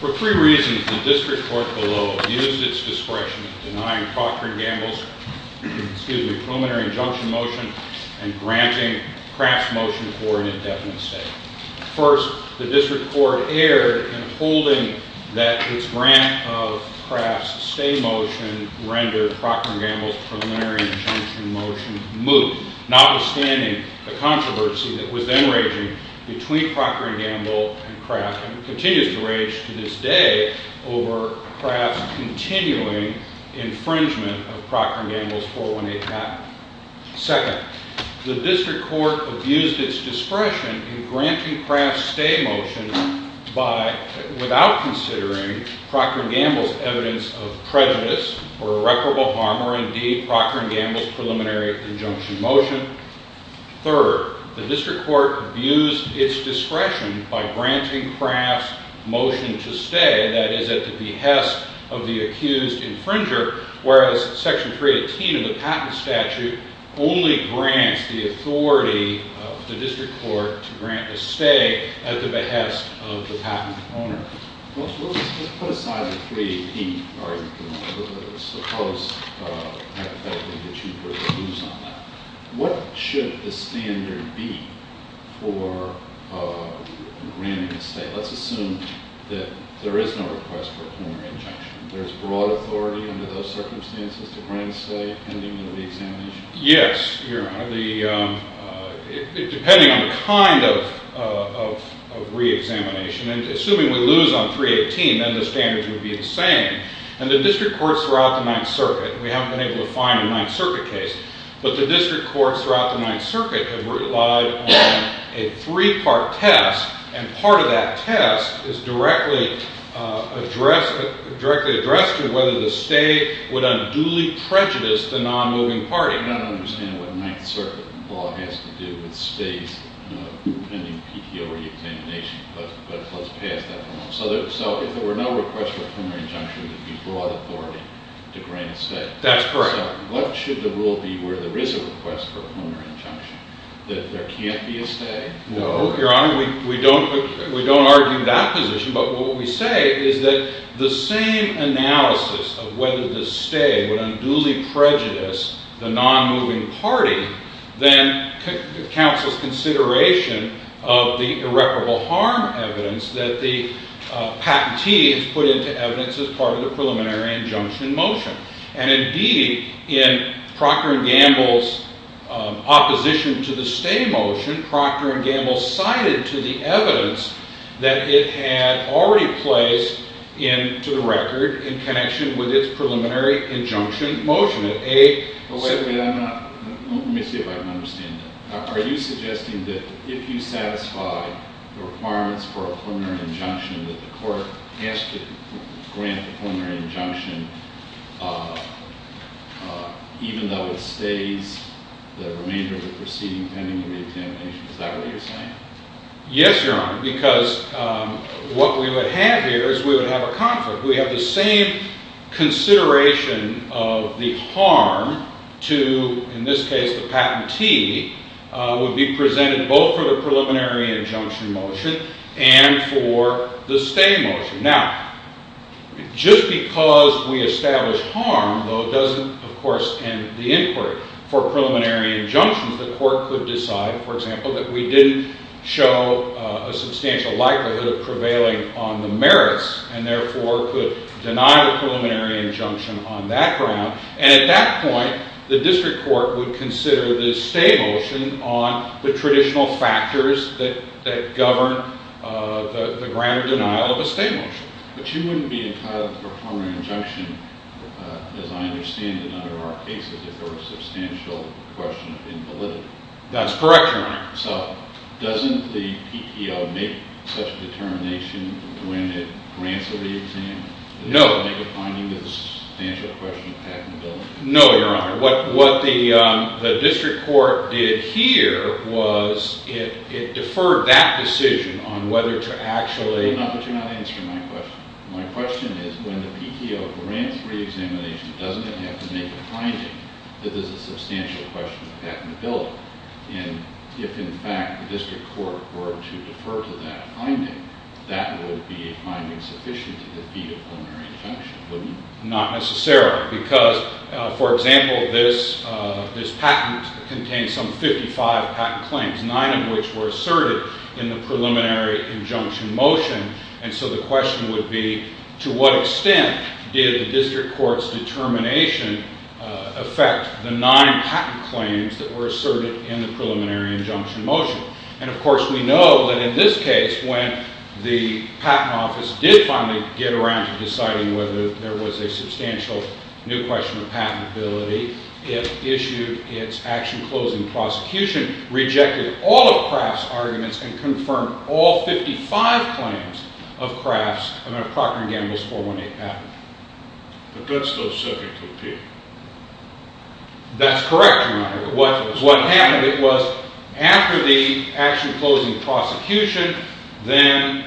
For three reasons, the District Court below abused its discretion in denying Procter & Gamble's preliminary injunction motion and granting Kraft's motion for an indefinite stay. First, the District Court erred in holding that its grant of Kraft's stay motion rendered Procter & Gamble's preliminary injunction motion moot, notwithstanding the controversy that was then raging between Procter & Gamble and Kraft and continues to rage to this day over Kraft's continuing infringement of Procter & Gamble's 418 patent. Second, the District Court abused its discretion in granting Kraft's stay motion without considering Procter & Gamble's evidence of prejudice or irreparable harm or indeed Procter & Gamble's preliminary injunction motion. Third, the District Court abused its discretion by granting Kraft's motion to stay, that is, at the behest of the accused infringer, whereas Section 318 of the patent statute only grants the authority of the District Court to grant a stay at the behest of the patent owner. What should the standard be for granting a stay? Let's assume that there is no request for a preliminary injunction. There is broad authority under those circumstances to grant a stay pending the reexamination? Yes, depending on the kind of reexamination. And assuming we lose on 318, then the standards would be the same. And the District Courts throughout the Ninth Circuit, we haven't been able to find a Ninth Circuit case, but the District Courts throughout the Ninth Circuit have relied on a three-part test, and part of that test is directly addressed to whether the stay would unduly prejudice the non-moving party. I do not understand what Ninth Circuit law has to do with stays pending PTO reexamination, but let's pass that one on. So if there were no request for a preliminary injunction, there would be broad authority to grant a stay? That's correct. So what should the rule be where there is a request for a preliminary injunction? That there can't be a stay? No, Your Honor. We don't argue that position, but what we say is that the same analysis of whether the stay would unduly prejudice the non-moving party then counts as consideration of the irreparable harm evidence that the patentee has put into evidence as part of the preliminary injunction motion. And indeed, in Procter & Gamble's opposition to the stay motion, Procter & Gamble cited to the evidence that it had already placed into the record in connection with its preliminary injunction motion. Wait a minute. Let me see if I can understand that. Are you suggesting that if you satisfy the requirements for a preliminary injunction that the court has to grant a preliminary injunction even though it stays the remainder of the proceeding pending the reexamination? Is that what you're saying? Yes, Your Honor, because what we would have here is we would have a conflict. We have the same consideration of the harm to, in this case, the patentee would be presented both for the preliminary injunction motion and for the stay motion. Now, just because we establish harm, though, doesn't, of course, end the inquiry. For preliminary injunctions, the court could decide, for example, that we didn't show a substantial likelihood of prevailing on the merits and therefore could deny the preliminary injunction on that ground. And at that point, the district court would consider the stay motion on the traditional factors that govern the grand denial of a stay motion. But you wouldn't be entitled to a preliminary injunction, as I understand in other cases, if there were a substantial question of invalidity. That's correct, Your Honor. So doesn't the PTO make such a determination when it grants a reexamination? No. Does the PTO make a finding that there's a substantial question of patentability? No, Your Honor. What the district court did here was it deferred that decision on whether to actually... But you're not answering my question. My question is when the PTO grants reexamination, doesn't it have to make a finding that there's a substantial question of patentability? And if, in fact, the district court were to defer to that finding, that would be a finding sufficient to defeat a preliminary injunction, wouldn't it? Not necessarily, because, for example, this patent contains some 55 patent claims, 9 of which were asserted in the preliminary injunction motion. And so the question would be, to what extent did the district court's determination affect the 9 patent claims that were asserted in the preliminary injunction motion? And, of course, we know that in this case, when the patent office did finally get around to deciding whether there was a substantial new question of patentability, it issued its action-closing prosecution, rejected all of Kraft's arguments, and confirmed all 55 claims of Kraft's and of Procter & Gamble's 418 patent. But that's still subject to appeal. That's correct, Your Honor. What happened was, after the action-closing prosecution, then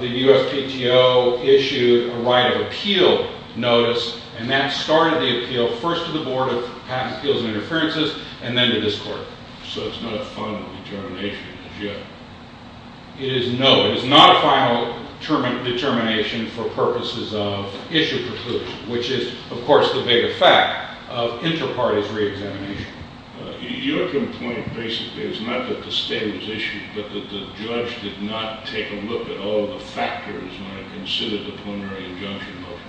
the USPTO issued a right of appeal notice, and that started the appeal first to the Board of Patent Appeals and Interferences, and then to this court. So it's not a final determination as yet? It is no. It is not a final determination for purposes of issue prosecution, which is, of course, the big effect of inter-parties re-examination. Your complaint basically is not that the state was issued, but that the judge did not take a look at all of the factors when it considered the preliminary injunction motion.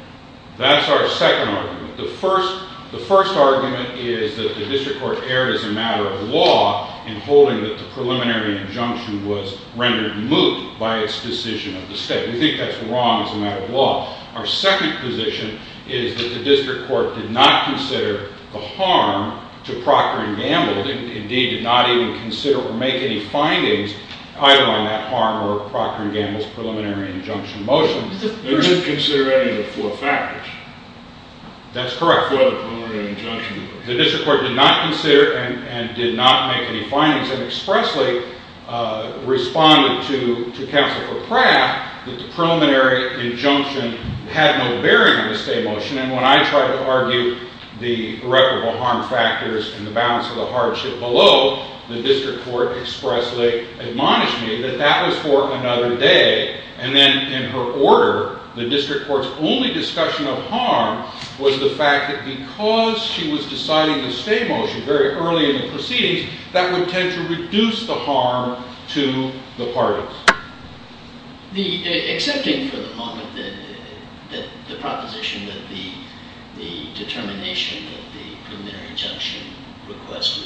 That's our second argument. The first argument is that the district court erred as a matter of law in holding that the preliminary injunction was rendered moot by its decision of the state. We think that's wrong as a matter of law. Our second position is that the district court did not consider the harm to Procter & Gamble, and indeed did not even consider or make any findings either on that harm or Procter & Gamble's preliminary injunction motion. It didn't consider any of the four factors. That's correct. For the preliminary injunction. The district court did not consider and did not make any findings, and expressly responded to Counsel for Kraft that the preliminary injunction had no bearing on the state motion. And when I tried to argue the irreparable harm factors and the balance of the hardship below, the district court expressly admonished me that that was for another day. And then in her order, the district court's only discussion of harm was the fact that because she was deciding the state motion very early in the proceedings, that would tend to reduce the harm to the parties. Excepting for the moment that the proposition that the determination that the preliminary injunction request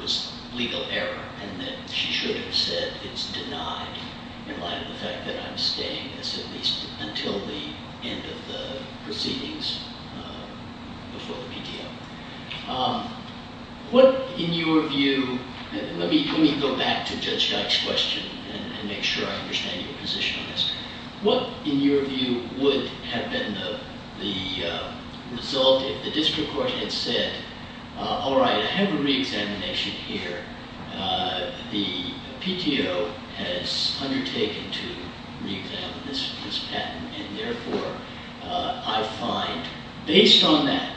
was legal error, and that she should have said it's denied in light of the fact that I'm staying at least until the end of the proceedings before the PTO. What, in your view, let me go back to Judge Dyke's question and make sure I understand your position on this. What, in your view, would have been the result if the district court had said, all right, I have a reexamination here. The PTO has undertaken to reexamine this patent. And therefore, I find, based on that,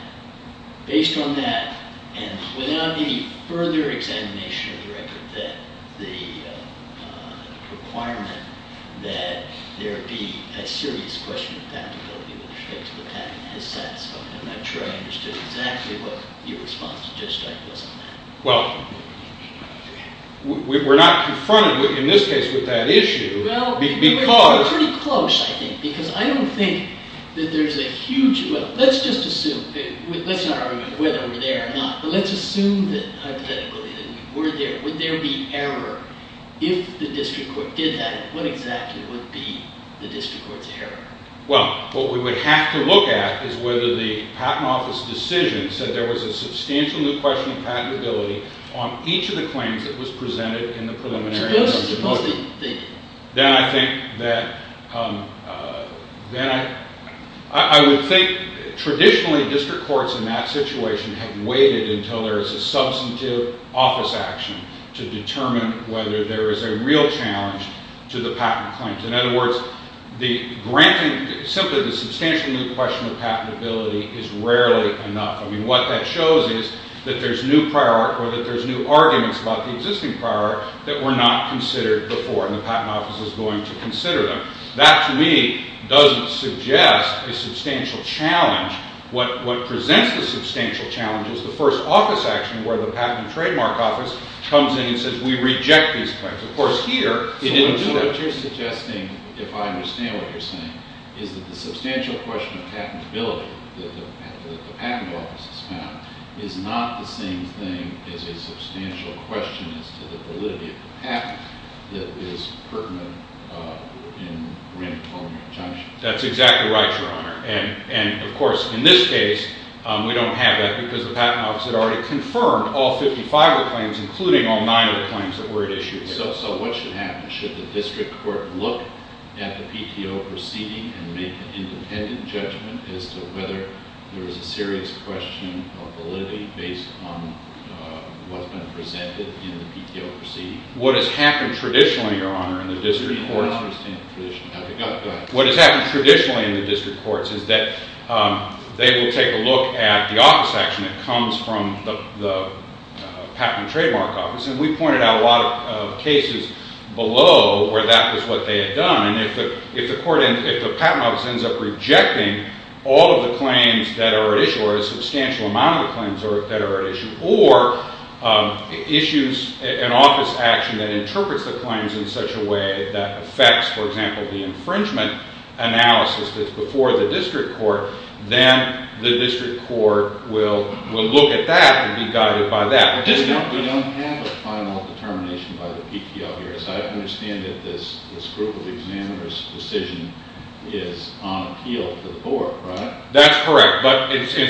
and without any further examination of the record, that the requirement that there be a serious question of patentability with respect to the patent has satisfied me. I'm not sure I understood exactly what your response to Judge Dyke was on that. Well, we're not confronted, in this case, with that issue. Well, we're pretty close, I think. Because I don't think that there's a huge, well, let's just assume, let's not argue whether we're there or not, but let's assume that, hypothetically, that we were there. Would there be error if the district court did that? What exactly would be the district court's error? Well, what we would have to look at is whether the patent office decision said there was a substantial new question of patentability on each of the claims that was presented in the preliminaries. Suppose they did. Then I think that I would think, traditionally, district courts in that situation have waited until there is a substantive office action to determine whether there is a real challenge to the patent claims. In other words, simply the substantial new question of patentability is rarely enough. I mean, what that shows is that there's new prior art or that there's new arguments about the existing prior art that were not considered before, and the patent office is going to consider them. That, to me, doesn't suggest a substantial challenge. What presents the substantial challenge is the first office action where the patent and trademark office comes in and says, we reject these claims. Of course, here, they didn't do that. So what you're suggesting, if I understand what you're saying, is that the substantial question of patentability that the patent office has found is not the same thing as a substantial question as to the validity of the patent that is pertinent in re-employment injunction. That's exactly right, Your Honor. And, of course, in this case, we don't have that because the patent office had already confirmed all 55 of the claims, including all nine of the claims that were issued. So what should happen? Should the district court look at the PTO proceeding and make an independent judgment as to whether there is a serious question of validity based on what's been presented in the PTO proceeding? What has happened traditionally, Your Honor, in the district courts— I don't understand the tradition. Go ahead. What has happened traditionally in the district courts is that they will take a look at the office action that comes from the patent and trademark office. And we pointed out a lot of cases below where that was what they had done. And if the patent office ends up rejecting all of the claims that are at issue, or a substantial amount of the claims that are at issue, or issues an office action that interprets the claims in such a way that affects, for example, the infringement analysis that's before the district court, then the district court will look at that and be guided by that. We don't have a final determination by the PTO here. As I understand it, this group of examiners' decision is on appeal to the court, right? That's correct.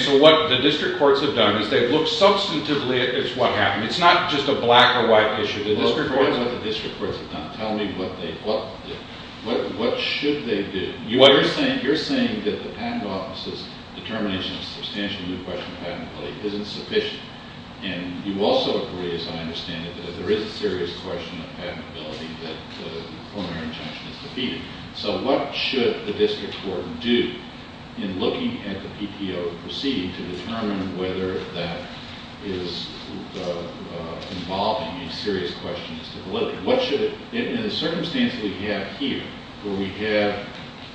So what the district courts have done is they've looked substantively at what happened. It's not just a black or white issue. Tell me what the district courts have done. Tell me what they ought to do. What should they do? You're saying that the patent office's determination of a substantial new question of patentability isn't sufficient. And you also agree, as I understand it, that there is a serious question of patentability that the preliminary injunction is defeating. So what should the district court do in looking at the PTO proceeding to determine whether that is involving a serious question as to validity? In the circumstance that we have here, where we have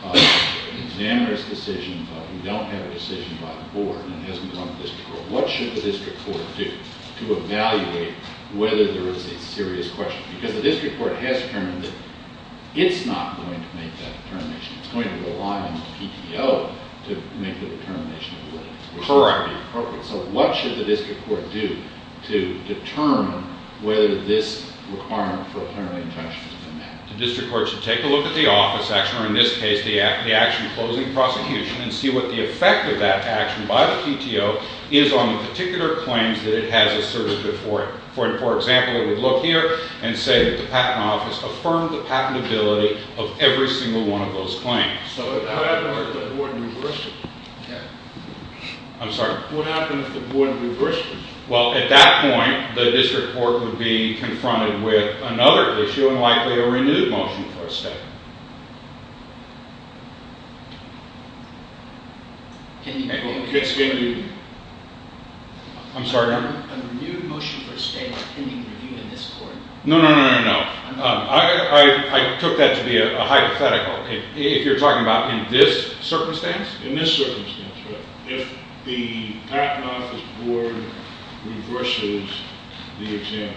an examiner's decision but we don't have a decision by the board and it hasn't gone to the district court, what should the district court do to evaluate whether there is a serious question? Because the district court has determined that it's not going to make that determination. It's going to rely on the PTO to make the determination of validity. Correct. So what should the district court do to determine whether this requirement for a preliminary injunction is met? The district court should take a look at the office action, or in this case the action closing prosecution, and see what the effect of that action by the PTO is on the particular claims that it has asserted before it. For example, it would look here and say that the patent office affirmed the patentability of every single one of those claims. So what would happen if the board reversed it? I'm sorry? What would happen if the board reversed it? Well, at that point, the district court would be confronted with another issue and likely a renewed motion for a statement. A renewed motion for a statement. Can you renew it in this court? No, no, no, no, no. I took that to be a hypothetical. Okay. If you're talking about in this circumstance? In this circumstance, right. If the patent office board reverses the examiners.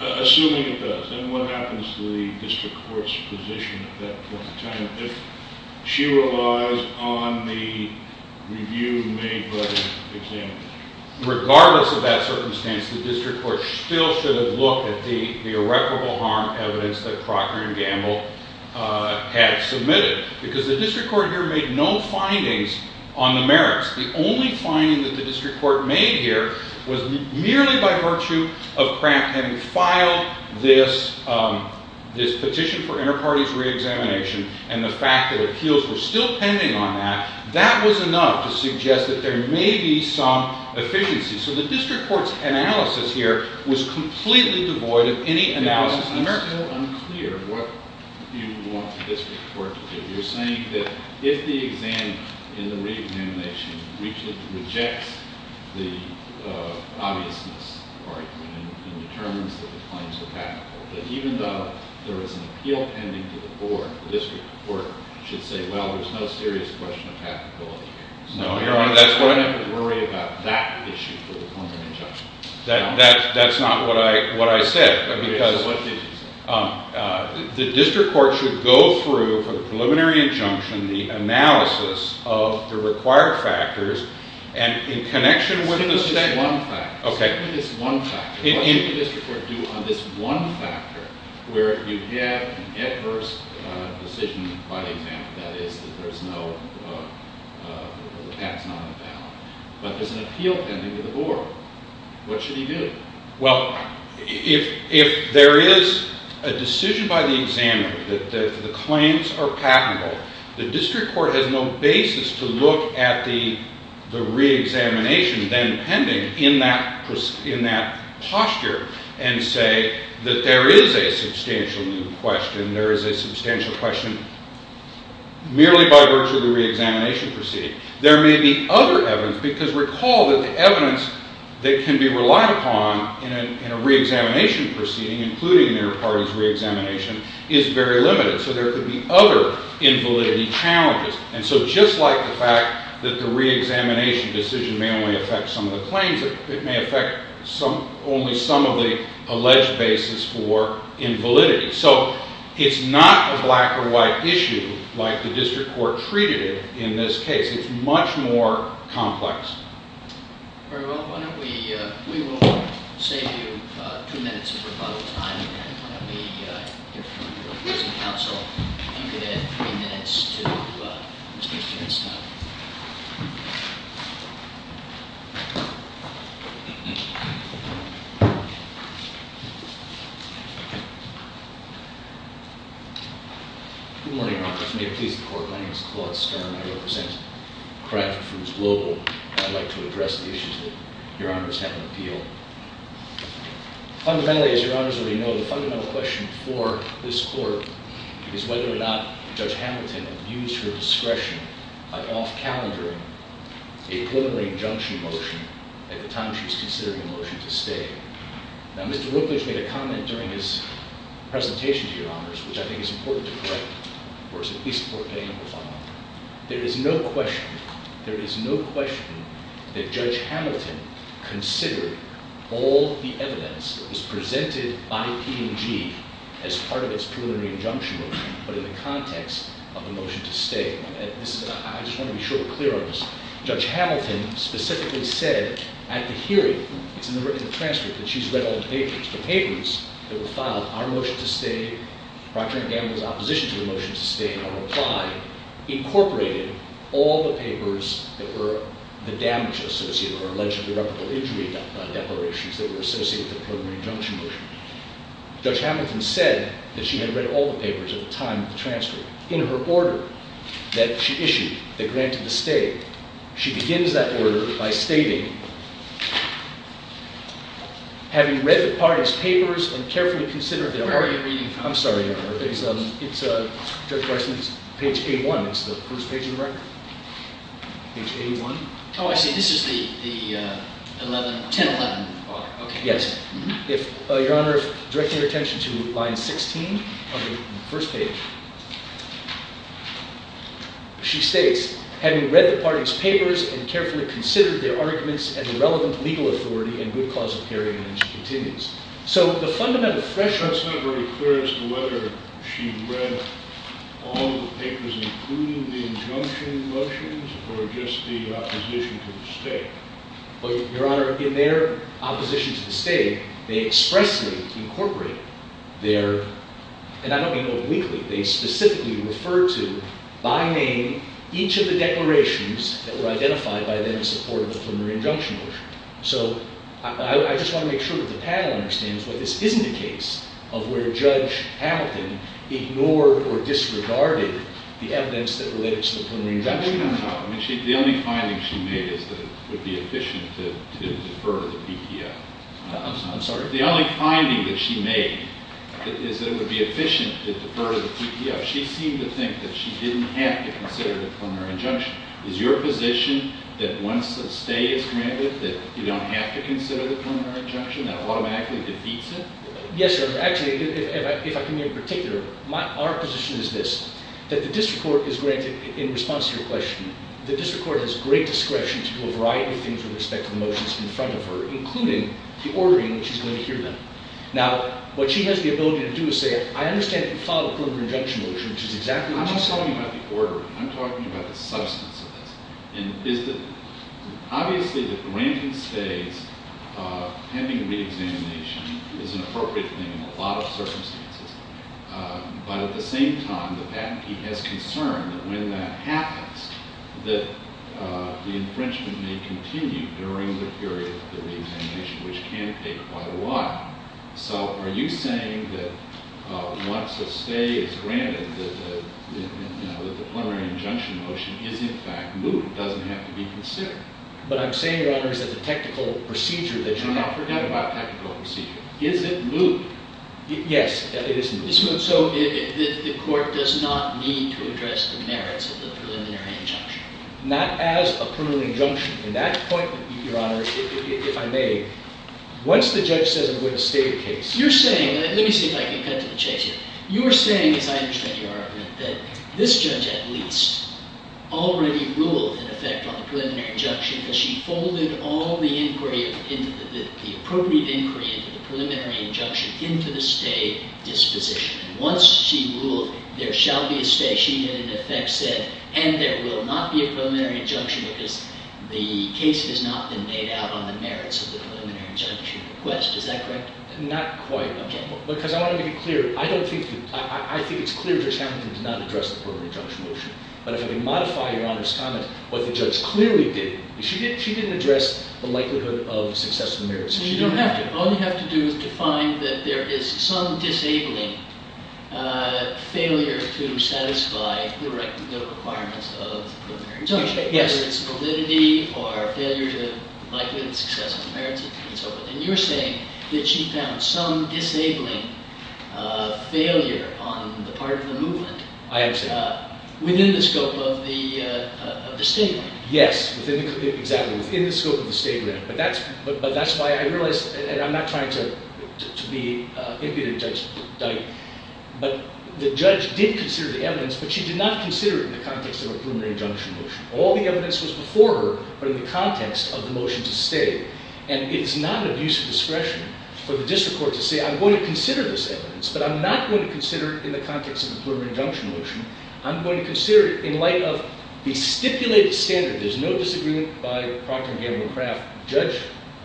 Assuming it does, then what happens to the district court's position at that point in time if she relies on the review made by the examiners? Regardless of that circumstance, the district court still should have looked at the irreparable harm evidence that Crocker and Gamble had submitted. Because the district court here made no findings on the merits. The only finding that the district court made here was merely by virtue of Cramp having filed this petition for inter-parties re-examination, and the fact that appeals were still pending on that, that was enough to suggest that there may be some efficiency. So the district court's analysis here was completely devoid of any analysis of the merits. It's still unclear what you want the district court to do. You're saying that if the exam, in the re-examination, rejects the obviousness and determines that the claims were patentable, that even though there is an appeal pending to the court, the district court should say, well, there's no serious question of patentability. No, Your Honor, that's what I'm saying. So you don't have to worry about that issue for the preliminary injunction. That's not what I said. Okay, so what did you say? The district court should go through, for the preliminary injunction, the analysis of the required factors, and in connection with the state... where you have an adverse decision by the examiner, that is, that there's no, the patent's not on the ballot, but there's an appeal pending to the board. What should he do? Well, if there is a decision by the examiner that the claims are patentable, the district court has no basis to look at the re-examination then pending in that posture and say that there is a substantial new question, there is a substantial question merely by virtue of the re-examination proceeding. There may be other evidence, because recall that the evidence that can be relied upon in a re-examination proceeding, including an inter-parties re-examination, is very limited, so there could be other invalidity challenges. And so just like the fact that the re-examination decision may only affect some of the claims, it may affect only some of the alleged basis for invalidity. So it's not a black or white issue like the district court treated it in this case. It's much more complex. Very well, why don't we, we will save you two minutes of rebuttal time. And why don't we hear from the opposing counsel, if you could add three minutes to Mr. Finstein. Good morning, Your Honor. If you may please the court, my name is Claude Stern. I represent Kraft Foods Global. I'd like to address the issues that Your Honor is having appeal. Fundamentally, as Your Honor already knows, the fundamental question for this court is whether or not Judge Hamilton abused her discretion by off-calendaring a preliminary injunction motion at the time she was considering the motion to stay. Now, Mr. Rooklage made a comment during his presentation to Your Honors, which I think is important to correct. There is no question, there is no question that Judge Hamilton considered all the evidence that was presented by P&G as part of its preliminary injunction motion, but in the context of the motion to stay. I just want to be sure we're clear on this. Judge Hamilton specifically said at the hearing, it's in the transcript, that she's read all the papers. The papers that were filed, our motion to stay, Procter & Gamble's opposition to the motion to stay, our reply, incorporated all the papers that were the damage associated or alleged irreparable injury declarations that were associated with the preliminary injunction motion. Judge Hamilton said that she had read all the papers at the time of the transcript. In her order that she issued that granted the stay, she begins that order by stating, having read the parties' papers and carefully considered them. Where are you reading from? I'm sorry, Your Honor. It's Judge Weissman's page A1. It's the first page in the record. Page A1. Oh, I see. This is the 1011. Yes. Your Honor, if you direct your attention to line 16 on the first page, she states, having read the parties' papers and carefully considered their arguments and the relevant legal authority and good cause of hearing. And then she continues. So the fundamental thresholds. It's not very clear as to whether she read all the papers, including the injunction motions, or just the opposition to the stay. But, Your Honor, in their opposition to the stay, they expressly incorporate their, and I don't mean obliquely, they specifically refer to, by name, each of the declarations that were identified by them in support of the preliminary injunction motion. So I just want to make sure that the panel understands that this isn't a case of where Judge Hamilton ignored or disregarded the evidence that related to the preliminary injunction motion. The only finding she made is that it would be efficient to defer the PTF. I'm sorry? The only finding that she made is that it would be efficient to defer the PTF. She seemed to think that she didn't have to consider the preliminary injunction. Is your position that once a stay is granted, that you don't have to consider the preliminary injunction? That automatically defeats it? Yes, Your Honor. Actually, if I can be in particular, our position is this, that the district court is granted, in response to your question, the district court has great discretion to do a variety of things with respect to the motions in front of her, including the ordering in which she's going to hear them. Now, what she has the ability to do is say, I understand that you followed the preliminary injunction motion, which is exactly what you said. I'm not talking about the ordering. I'm talking about the substance of this. Obviously, the granting stays pending reexamination is an appropriate thing in a lot of circumstances. But at the same time, the patentee has concern that when that happens, that the infringement may continue during the period of the reexamination, which can take quite a while. So are you saying that once a stay is granted, that the preliminary injunction motion is, in fact, moved, doesn't have to be considered? But I'm saying, Your Honors, that the technical procedure that you have. Oh, forget about technical procedure. Is it moved? Yes, it is moved. So the court does not need to address the merits of the preliminary injunction? Not as a preliminary injunction. In that point, Your Honors, if I may, once the judge says I'm going to stay the case. You're saying, let me see if I can cut to the chase here. You are saying, as I understand your argument, that this judge at least already ruled in effect on the preliminary injunction because she folded all the appropriate inquiry into the preliminary injunction into the stay disposition. Once she ruled there shall be a stay, she in effect said, and there will not be a preliminary injunction because the case has not been made out on the merits of the preliminary injunction request. Is that correct? Not quite. OK. Because I want to be clear. I think it's clear Judge Hamilton did not address the preliminary injunction motion. But if I can modify Your Honor's comment, what the judge clearly did, she didn't address the likelihood of successful merits. She didn't have to. All you have to do is define that there is some disabling failure to satisfy the right to go requirements of the preliminary injunction. Yes. Whether it's validity or failure to likelihood of successful merits and so forth. And you're saying that she found some disabling failure on the part of the movement. I am saying that. Within the scope of the statement. Yes. Exactly. Within the scope of the statement. But that's why I realize, and I'm not trying to be impudent, Judge Dike, but the judge did consider the evidence, but she did not consider it in the context of a preliminary injunction motion. All the evidence was before her, but in the context of the motion to stay. And it is not of use of discretion for the district court to say, I'm going to consider this evidence, but I'm not going to consider it in the context of a preliminary injunction motion. I'm going to consider it in light of the stipulated standard. There's no disagreement by Procter & Gamble and Kraft. Judge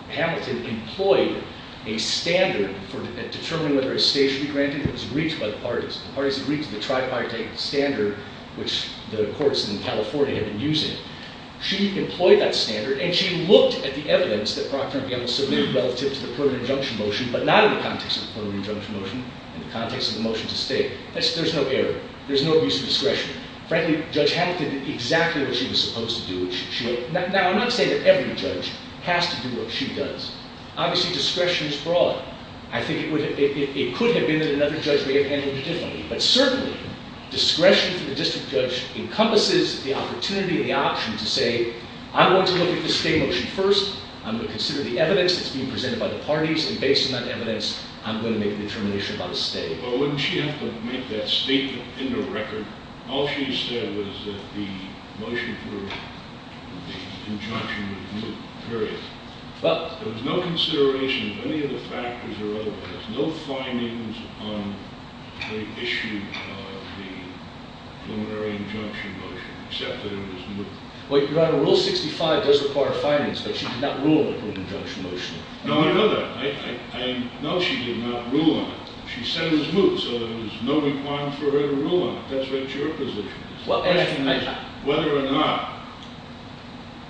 Hamilton employed a standard for determining whether a stay should be granted. It was reached by the parties. The parties agreed to the tripartite standard, which the courts in California had been using. She employed that standard, and she looked at the evidence that Procter & Gamble submitted relative to the preliminary injunction motion, but not in the context of the preliminary injunction motion. In the context of the motion to stay. There's no error. There's no use of discretion. Frankly, Judge Hamilton did exactly what she was supposed to do. Now, I'm not saying that every judge has to do what she does. Obviously, discretion is broad. I think it could have been that another judge may have handled it differently. But certainly, discretion for the district judge encompasses the opportunity and the option to say, I'm going to look at the stay motion first. I'm going to consider the evidence that's being presented by the parties. And based on that evidence, I'm going to make a determination about a stay. Well, wouldn't she have to make that statement in the record? All she said was that the motion for the injunction was moot, period. There was no consideration of any of the factors or otherwise. No findings on the issue of the preliminary injunction motion, except that it was moot. Your Honor, Rule 65 does require findings, but she did not rule on the preliminary injunction motion. No, I know that. No, she did not rule on it. She said it was moot, so there was no requirement for her to rule on it. That's what your position is, whether or not,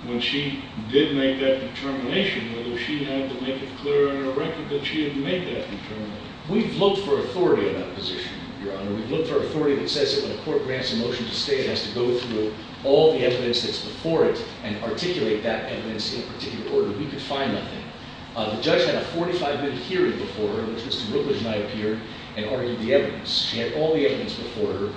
when she did make that determination, whether she had to make it clear in her record that she had made that determination. We've looked for authority on that position, Your Honor. We've looked for authority that says that when a court grants a motion to stay, it has to go through all the evidence that's before it and articulate that evidence in a particular order. We could find nothing. The judge had a 45-minute hearing before her in which Mr. Rookledge and I appeared and argued the evidence. She had all the evidence before her.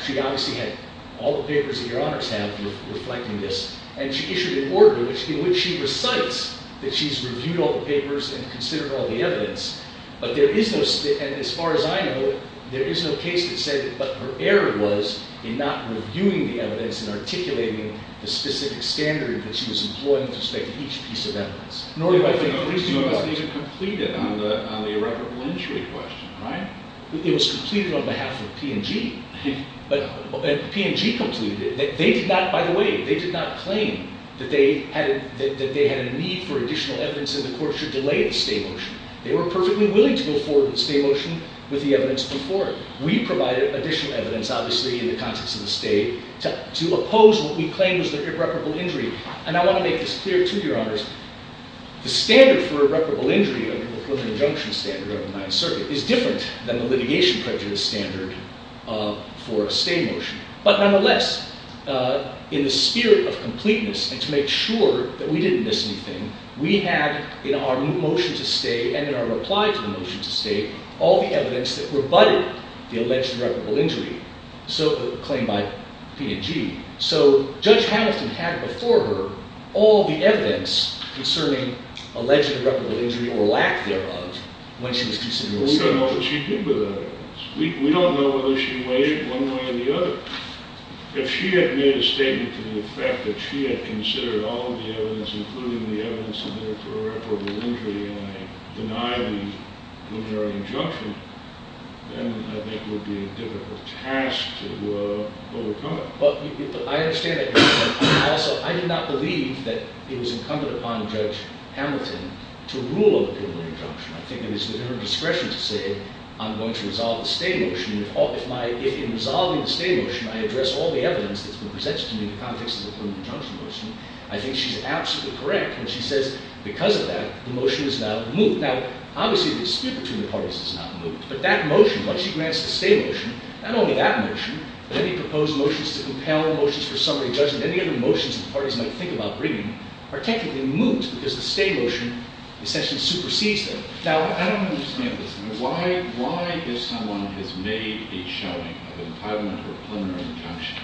She obviously had all the papers that your honors have reflecting this, and she issued an order in which she recites that she's reviewed all the papers and considered all the evidence. But there is no, and as far as I know, there is no case that said that her error was in not reviewing the evidence and articulating the specific standard that she was employing with respect to each piece of evidence. It was not completed on the irreparable injury question, right? It was completed on behalf of P&G. P&G completed it. They did not, by the way, they did not claim that they had a need for additional evidence and the court should delay the stay motion. They were perfectly willing to go forward with the stay motion with the evidence before it. We provided additional evidence, obviously, in the context of the stay to oppose what we claimed was the irreparable injury. And I want to make this clear to your honors. The standard for irreparable injury under the preliminary injunction standard of the Ninth Circuit is different than the litigation prejudice standard for a stay motion. But nonetheless, in the spirit of completeness and to make sure that we didn't miss anything, we had in our new motion to stay and in our reply to the motion to stay all the evidence that rebutted the alleged irreparable injury claimed by P&G. So Judge Hamilton had before her all the evidence concerning alleged irreparable injury or lack thereof when she was considering the stay motion. We don't know what she did with that evidence. We don't know whether she weighed it one way or the other. If she had made a statement to the effect that she had considered all of the evidence, including the evidence in there for irreparable injury, and I deny the preliminary injunction, then I think it would be a difficult task to overcome it. But I understand that. Also, I did not believe that it was incumbent upon Judge Hamilton to rule on the preliminary injunction. I think it is within her discretion to say, I'm going to resolve the stay motion. If in resolving the stay motion, I address all the evidence that's been presented to me in the context of the preliminary injunction motion, I think she's absolutely correct when she says, because of that, the motion is not moved. Now, obviously, the dispute between the parties is not moved. But that motion, once she grants the stay motion, not only that motion, but any proposed motions to compel motions for summary judgment, any other motions the parties might think about bringing, are technically moved because the stay motion essentially supersedes them. Now, I don't understand this. Why, if someone has made a showing of entitlement to a preliminary injunction,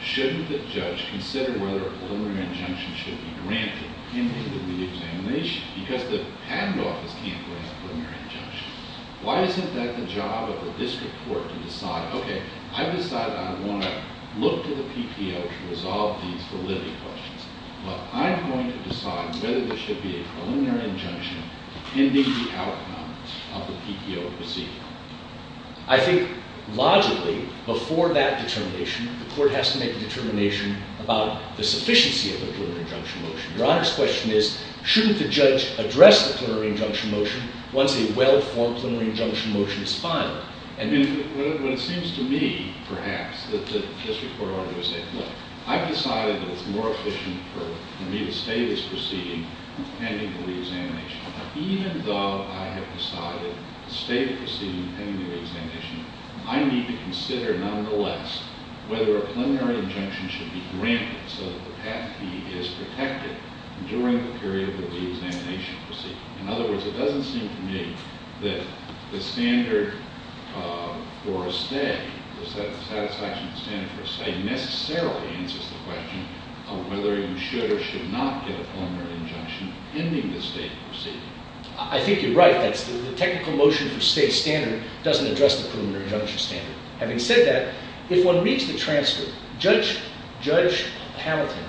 shouldn't the judge consider whether a preliminary injunction should be granted in the examination? Because the patent office can't grant a preliminary injunction. Why isn't that the job of the district court to decide, OK, I've decided I want to look to the PTO to resolve these validity questions. But I'm going to decide whether there should be a preliminary injunction pending the outcome of the PTO proceeding. I think, logically, before that determination, the court has to make a determination about the sufficiency of the preliminary injunction motion. Your Honor's question is, shouldn't the judge address the preliminary injunction motion once a well-formed preliminary injunction motion is filed? And it seems to me, perhaps, that the district court ought to say, look, I've decided that it's more efficient for me to stay this proceeding pending the reexamination. Even though I have decided to stay the proceeding pending the reexamination, I need to consider, nonetheless, whether a preliminary injunction should be granted so that the patent fee is protected during the period of the reexamination proceeding. In other words, it doesn't seem to me that the standard for a stay, the satisfaction of the standard for a stay, necessarily answers the question of whether you should or should not get a preliminary injunction pending the state proceeding. I think you're right. The technical motion for stay standard doesn't address the preliminary injunction standard. Having said that, if one reads the transcript, Judge Hamilton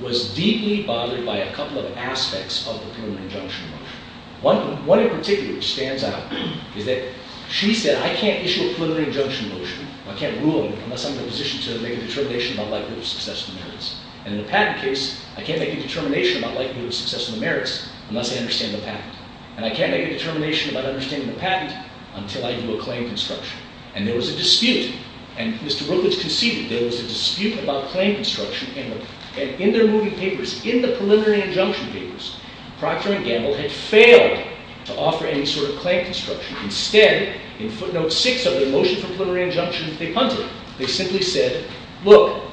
was deeply bothered by a couple of aspects of the preliminary injunction motion. One in particular, which stands out, is that she said, I can't issue a preliminary injunction motion. I can't rule on it unless I'm in a position to make a determination about likelihood of success in the merits. And in the patent case, I can't make a determination about likelihood of success in the merits unless I understand the patent. And I can't make a determination about understanding the patent until I do a claim construction. And there was a dispute. And Mr. Rutledge conceded there was a dispute about claim construction. And in their moving papers, in the preliminary injunction papers, Procter & Gamble had failed to offer any sort of claim construction. Instead, in footnote 6 of their motion for preliminary injunction, they punted it. They simply said, look,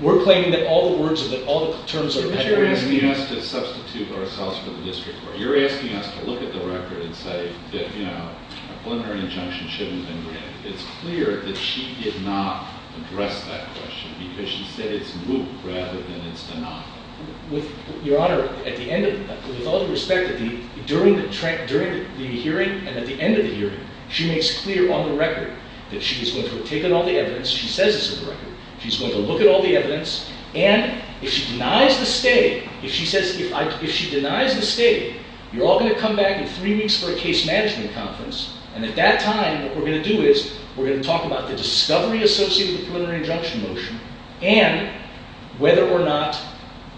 we're claiming that all the words and that all the terms are patentable. But you're asking us to substitute ourselves for the district court. You're asking us to look at the record and say that a preliminary injunction shouldn't have been written. It's clear that she did not address that question because she said it's moot rather than it's deniable. Your Honor, with all due respect, during the hearing and at the end of the hearing, she makes clear on the record that she was going to have taken all the evidence. She says this on the record. She's going to look at all the evidence. And if she denies the stay, if she says, if she denies the stay, you're all going to come back in three weeks for a case management conference. And at that time, what we're going to do is we're going to talk about the discovery associated with the preliminary injunction motion and whether or not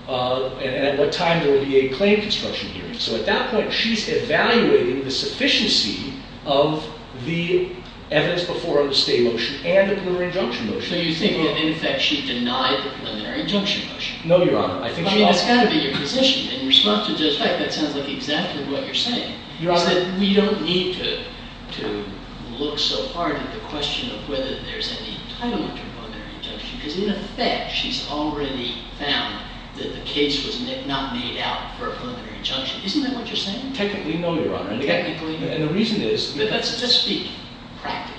and at what time there will be a claim construction hearing. So at that point, she's evaluating the sufficiency of the evidence before on the stay motion and the preliminary injunction motion. So you think that, in effect, she denied the preliminary injunction motion? No, Your Honor. I mean, that's got to be your position. In response to the fact that sounds like exactly what you're saying is that we don't need to look so hard at the question of whether there's any entitlement to a preliminary injunction because, in effect, she's already found that the case was not made out for a preliminary injunction. Isn't that what you're saying? Technically, no, Your Honor. Technically, no. And the reason is… But let's just speak practically.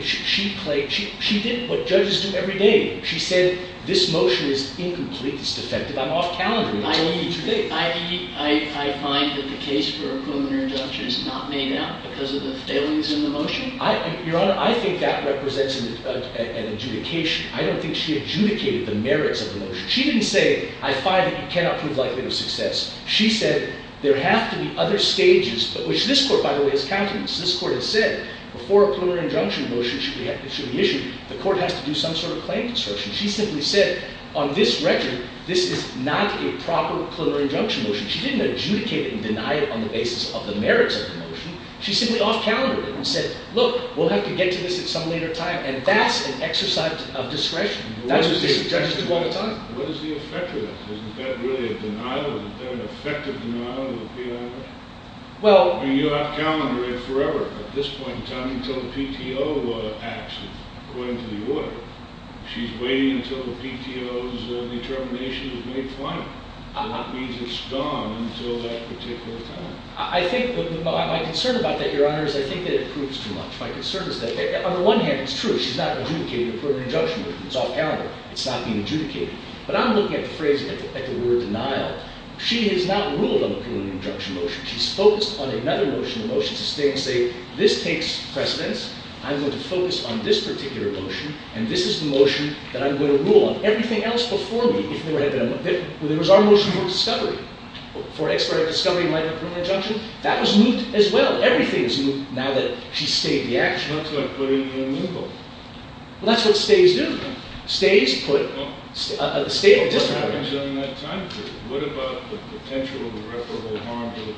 She did what judges do every day. She said, this motion is incomplete. It's defective. I'm off calendar. I told you two things. I find that the case for a preliminary injunction is not made out because of the failings in the motion? Your Honor, I think that represents an adjudication. I don't think she adjudicated the merits of the motion. She didn't say, I find that you cannot prove likelihood of success. She said, there have to be other stages, which this court, by the way, has counted. This court has said, before a preliminary injunction motion should be issued, the court has to do some sort of claim construction. She simply said, on this record, this is not a proper preliminary injunction motion. She didn't adjudicate it and deny it on the basis of the merits of the motion. She simply off-calendared it and said, look, we'll have to get to this at some later time. And that's an exercise of discretion. That's what judges do all the time. What is the effect of that? Isn't that really a denial? Isn't that an effective denial of the preliminary injunction? Well You off-calendar it forever, at this point in time, until the PTO acts according to the order. She's waiting until the PTO's determination is made final. And that means it's gone until that particular time. I think, my concern about that, Your Honor, is I think that it proves too much. My concern is that, on the one hand, it's true. She's not adjudicating a preliminary injunction motion. It's off-calendar. It's not being adjudicated. But I'm looking at the phrase, at the word denial. She has not ruled on a preliminary injunction motion. She's focused on another motion, a motion to stay in the state. This takes precedence. I'm going to focus on this particular motion. And this is the motion that I'm going to rule on. Everything else before me, if there was our motion for discovery, for expedited discovery in light of a preliminary injunction, that was moved as well. Everything is moved now that she's stayed in the act. She went to a preliminary injunction motion. Well, that's what stays do. Stays put a state of disrepair. But what happens on that time period? What about the potential irreparable harm to the patent?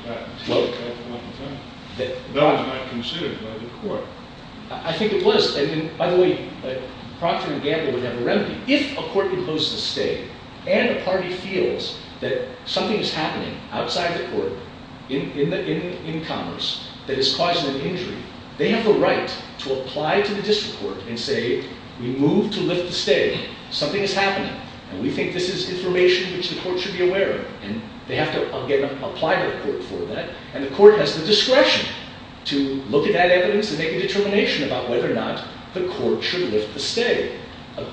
That was not considered by the court. I think it was. And, by the way, Procter & Gamble would have a remedy. If a court imposes stay and a party feels that something is happening outside the court, in commerce, that is causing an injury, they have the right to apply to the district court and say, we move to lift the stay. Something is happening. And we think this is information which the court should be aware of. And they have to, again, apply to the court for that. And the court has the discretion to look at that evidence and make a determination about whether or not the court should lift the stay.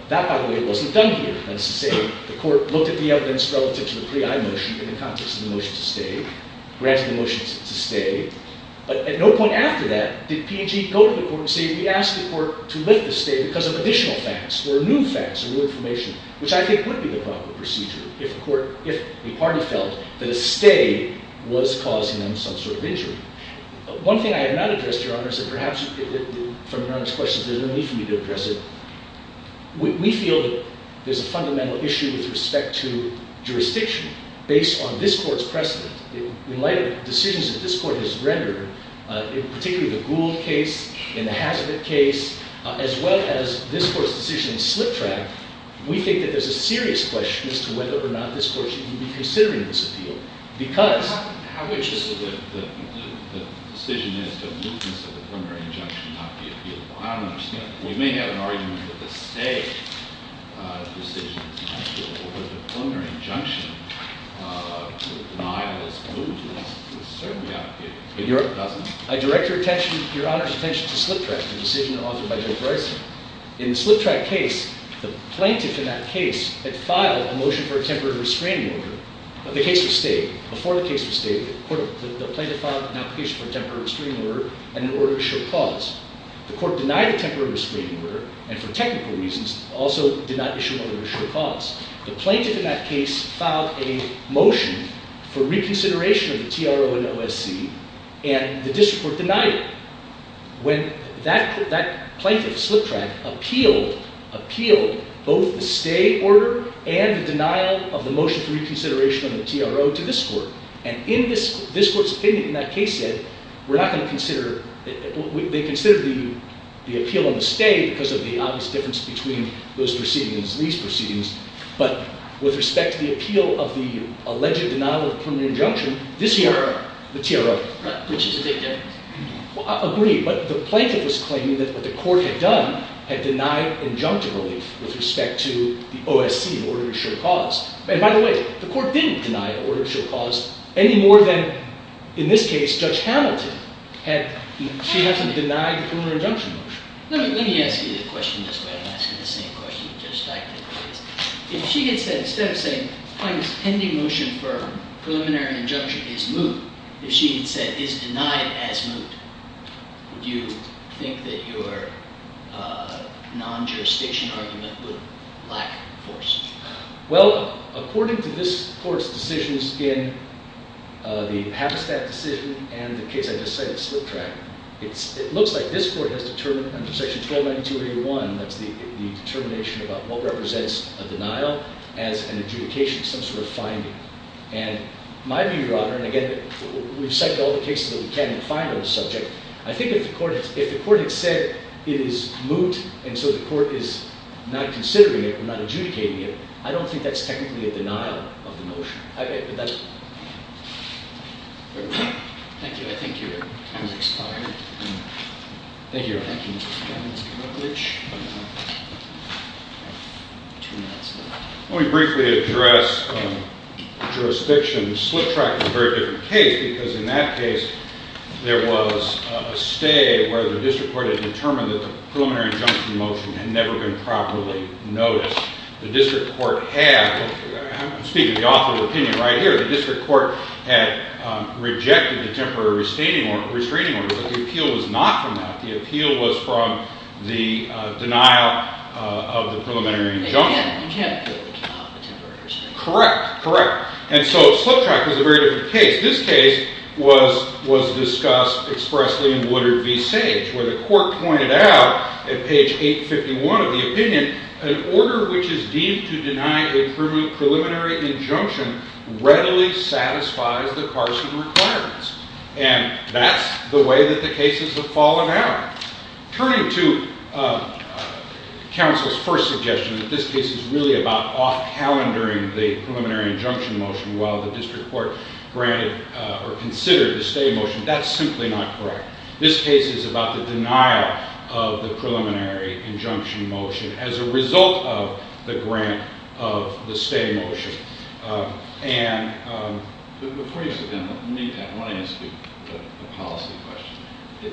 That, by the way, wasn't done here. That's to say the court looked at the evidence relative to the pre-I motion in the context of the motion to stay, granted the motion to stay. But at no point after that did P&G go to the court and say, we asked the court to lift the stay because of additional facts or new facts or new information, which I think would be the proper procedure if a party felt that a stay was causing them some sort of injury. One thing I have not addressed, Your Honor, is that perhaps from Your Honor's questions, there's no need for me to address it. We feel that there's a fundamental issue with respect to jurisdiction based on this court's precedent. In light of the decisions that this court has rendered, particularly the Gould case and the Hazard case, as well as this court's decision in Slip Track, we think that there's a serious question as to whether or not this court should be considering this appeal. Because how would you say that the decision is to move this preliminary injunction not be appealable? I don't understand. We may have an argument that the stay decision is not appealable, but the preliminary injunction to deny this movement is certainly not appealable. I direct Your Honor's attention to Slip Track, the decision authored by Judge Rice. In the Slip Track case, the plaintiff in that case had filed a motion for a temporary restraining order. The case was stayed. Before the case was stayed, the plaintiff filed an application for a temporary restraining order and an order to show cause. The court denied the temporary restraining order and for technical reasons also did not issue an order to show cause. The plaintiff in that case filed a motion for reconsideration of the TRO and OSC, and the district court denied it. When that plaintiff, Slip Track, appealed both the stay order and the denial of the motion for reconsideration of the TRO to this court, and this court's opinion in that case said, they considered the appeal on the stay because of the obvious difference between those proceedings and these proceedings, but with respect to the appeal of the alleged denial of the preliminary injunction, this here, the TRO. Which is a big difference. Well, I agree, but the plaintiff was claiming that what the court had done had denied injunctive relief with respect to the OSC in order to show cause. And by the way, the court didn't deny the order to show cause any more than, in this case, Judge Hamilton. She hasn't denied the preliminary injunction motion. Let me ask you the question this way. I'm asking the same question to Judge Steinke. If she gets that instead of saying, the plaintiff's pending motion for preliminary injunction is moot, if she had said, is denied as moot, would you think that your non-jurisdiction argument would lack force? Well, according to this court's decisions in the Habitat decision and the case I just cited, Slip Track, it looks like this court has determined under Section 1292.81, that's the determination about what represents a denial as an adjudication, some sort of finding. And my view, Your Honor, and again, we've cited all the cases that we can find on the subject, I think if the court had said it is moot, and so the court is not considering it, not adjudicating it, I don't think that's technically a denial of the motion. Thank you, Your Honor. Thank you, Mr. Steinke. Let me briefly address jurisdiction. Slip Track is a very different case because in that case, there was a stay where the district court had determined that the preliminary injunction motion had never been properly noticed. The district court had, I'm speaking the author's opinion right here, the district court had rejected the temporary restraining order, but the appeal was not from that. The appeal was from the denial of the preliminary injunction. Correct, correct. And so Slip Track is a very different case. This case was discussed expressly in Woodard v. Sage, where the court pointed out at page 851 of the opinion, an order which is deemed to deny a preliminary injunction readily satisfies the parson requirements. And that's the way that the cases have fallen out. Turning to counsel's first suggestion, that this case is really about off-calendaring the preliminary injunction motion while the district court granted or considered the stay motion, that's simply not correct. This case is about the denial of the preliminary injunction motion as a result of the grant of the stay motion. And before you sit down, I want to ask you a policy question.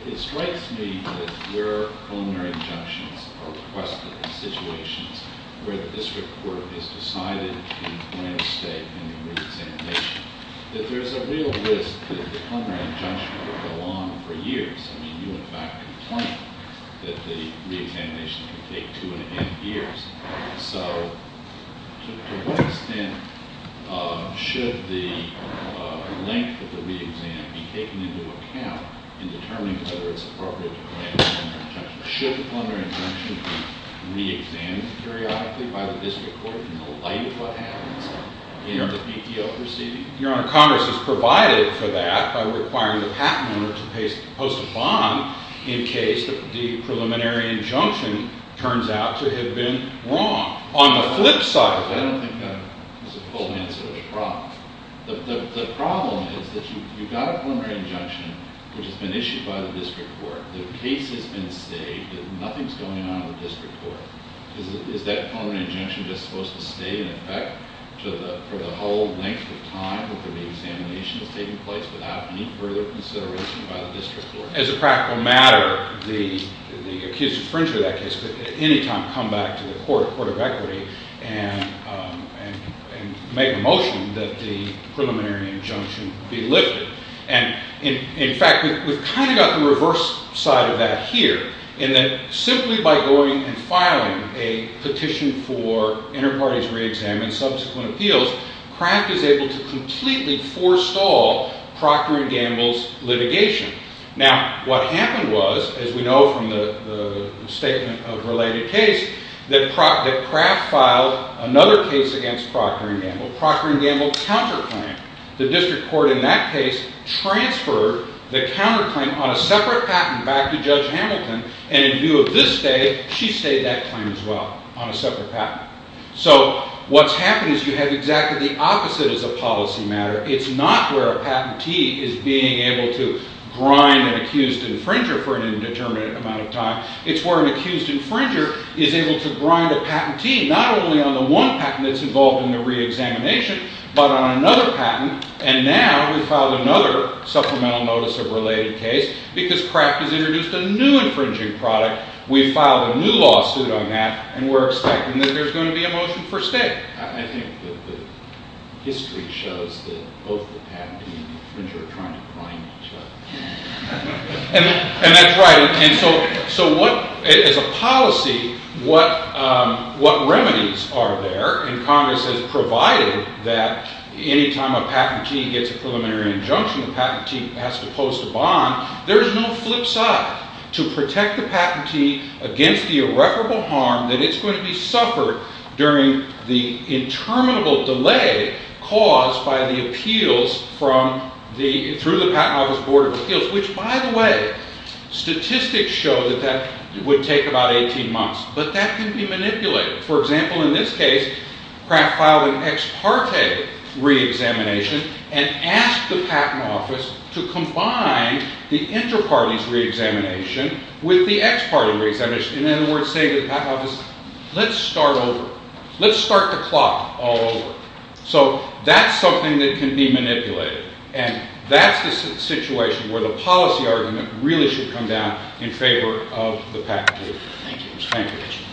It strikes me that your preliminary injunctions are requested in situations where the district court has decided to grant a stay in the re-examination, that there's a real risk that the preliminary injunction will go on for years. I mean, you, in fact, complained that the re-examination could take two and a half years. So to what extent should the length of the re-exam be taken into account in determining whether it's appropriate to grant a preliminary injunction? Should the preliminary injunction be re-examined periodically by the district court in the light of what happens in the PTO proceeding? Your Honor, Congress has provided for that by requiring the patent owner to post a bond in case the preliminary injunction turns out to have been wrong. On the flip side, I don't think that's a full answer to the problem. The problem is that you've got a preliminary injunction, which has been issued by the district court. The case has been stayed, and nothing's going on with the district court. Is that preliminary injunction just supposed to stay in effect for the whole length of time that the re-examination is taking place without any further consideration by the district court? As a practical matter, the accused infringer of that case could at any time come back to the Court of Equity and make a motion that the preliminary injunction be lifted. And in fact, we've kind of got the reverse side of that here, in that simply by going and filing a petition for inter-parties re-exam and subsequent appeals, Kraft is able to completely forestall Proctor and Gamble's litigation. Now, what happened was, as we know from the statement of related case, that Kraft filed another case against Proctor and Gamble, Proctor and Gamble counter-claim. The district court in that case transferred the counter-claim on a separate patent back to Judge Hamilton, and in view of this stay, she stayed that claim as well on a separate patent. So what's happened is you have exactly the opposite as a policy matter. It's not where a patentee is being able to grind an accused infringer for an indeterminate amount of time. It's where an accused infringer is able to grind a patentee, not only on the one patent that's involved in the re-examination, but on another patent. And now we've filed another supplemental notice of related case because Kraft has introduced a new infringing product. We've filed a new lawsuit on that, and we're expecting that there's going to be a motion for stay. I think the history shows that both the patentee and the infringer are trying to grind each other. And that's right. And so as a policy, what remedies are there? And Congress has provided that any time a patentee gets a preliminary injunction, the patentee has to post a bond. There is no flip side to protect the patentee against the irreparable harm that is going to be suffered during the interminable delay caused by the appeals through the Patent Office Board of Appeals, which, by the way, statistics show that that would take about 18 months. But that can be manipulated. For example, in this case, Kraft filed an ex parte re-examination and asked the Patent Office to combine the inter-parties re-examination with the ex parte re-examination. In other words, say to the Patent Office, let's start over. Let's start the clock all over. So that's something that can be manipulated, and that's the situation where the policy argument really should come down in favor of the patentee. Thank you.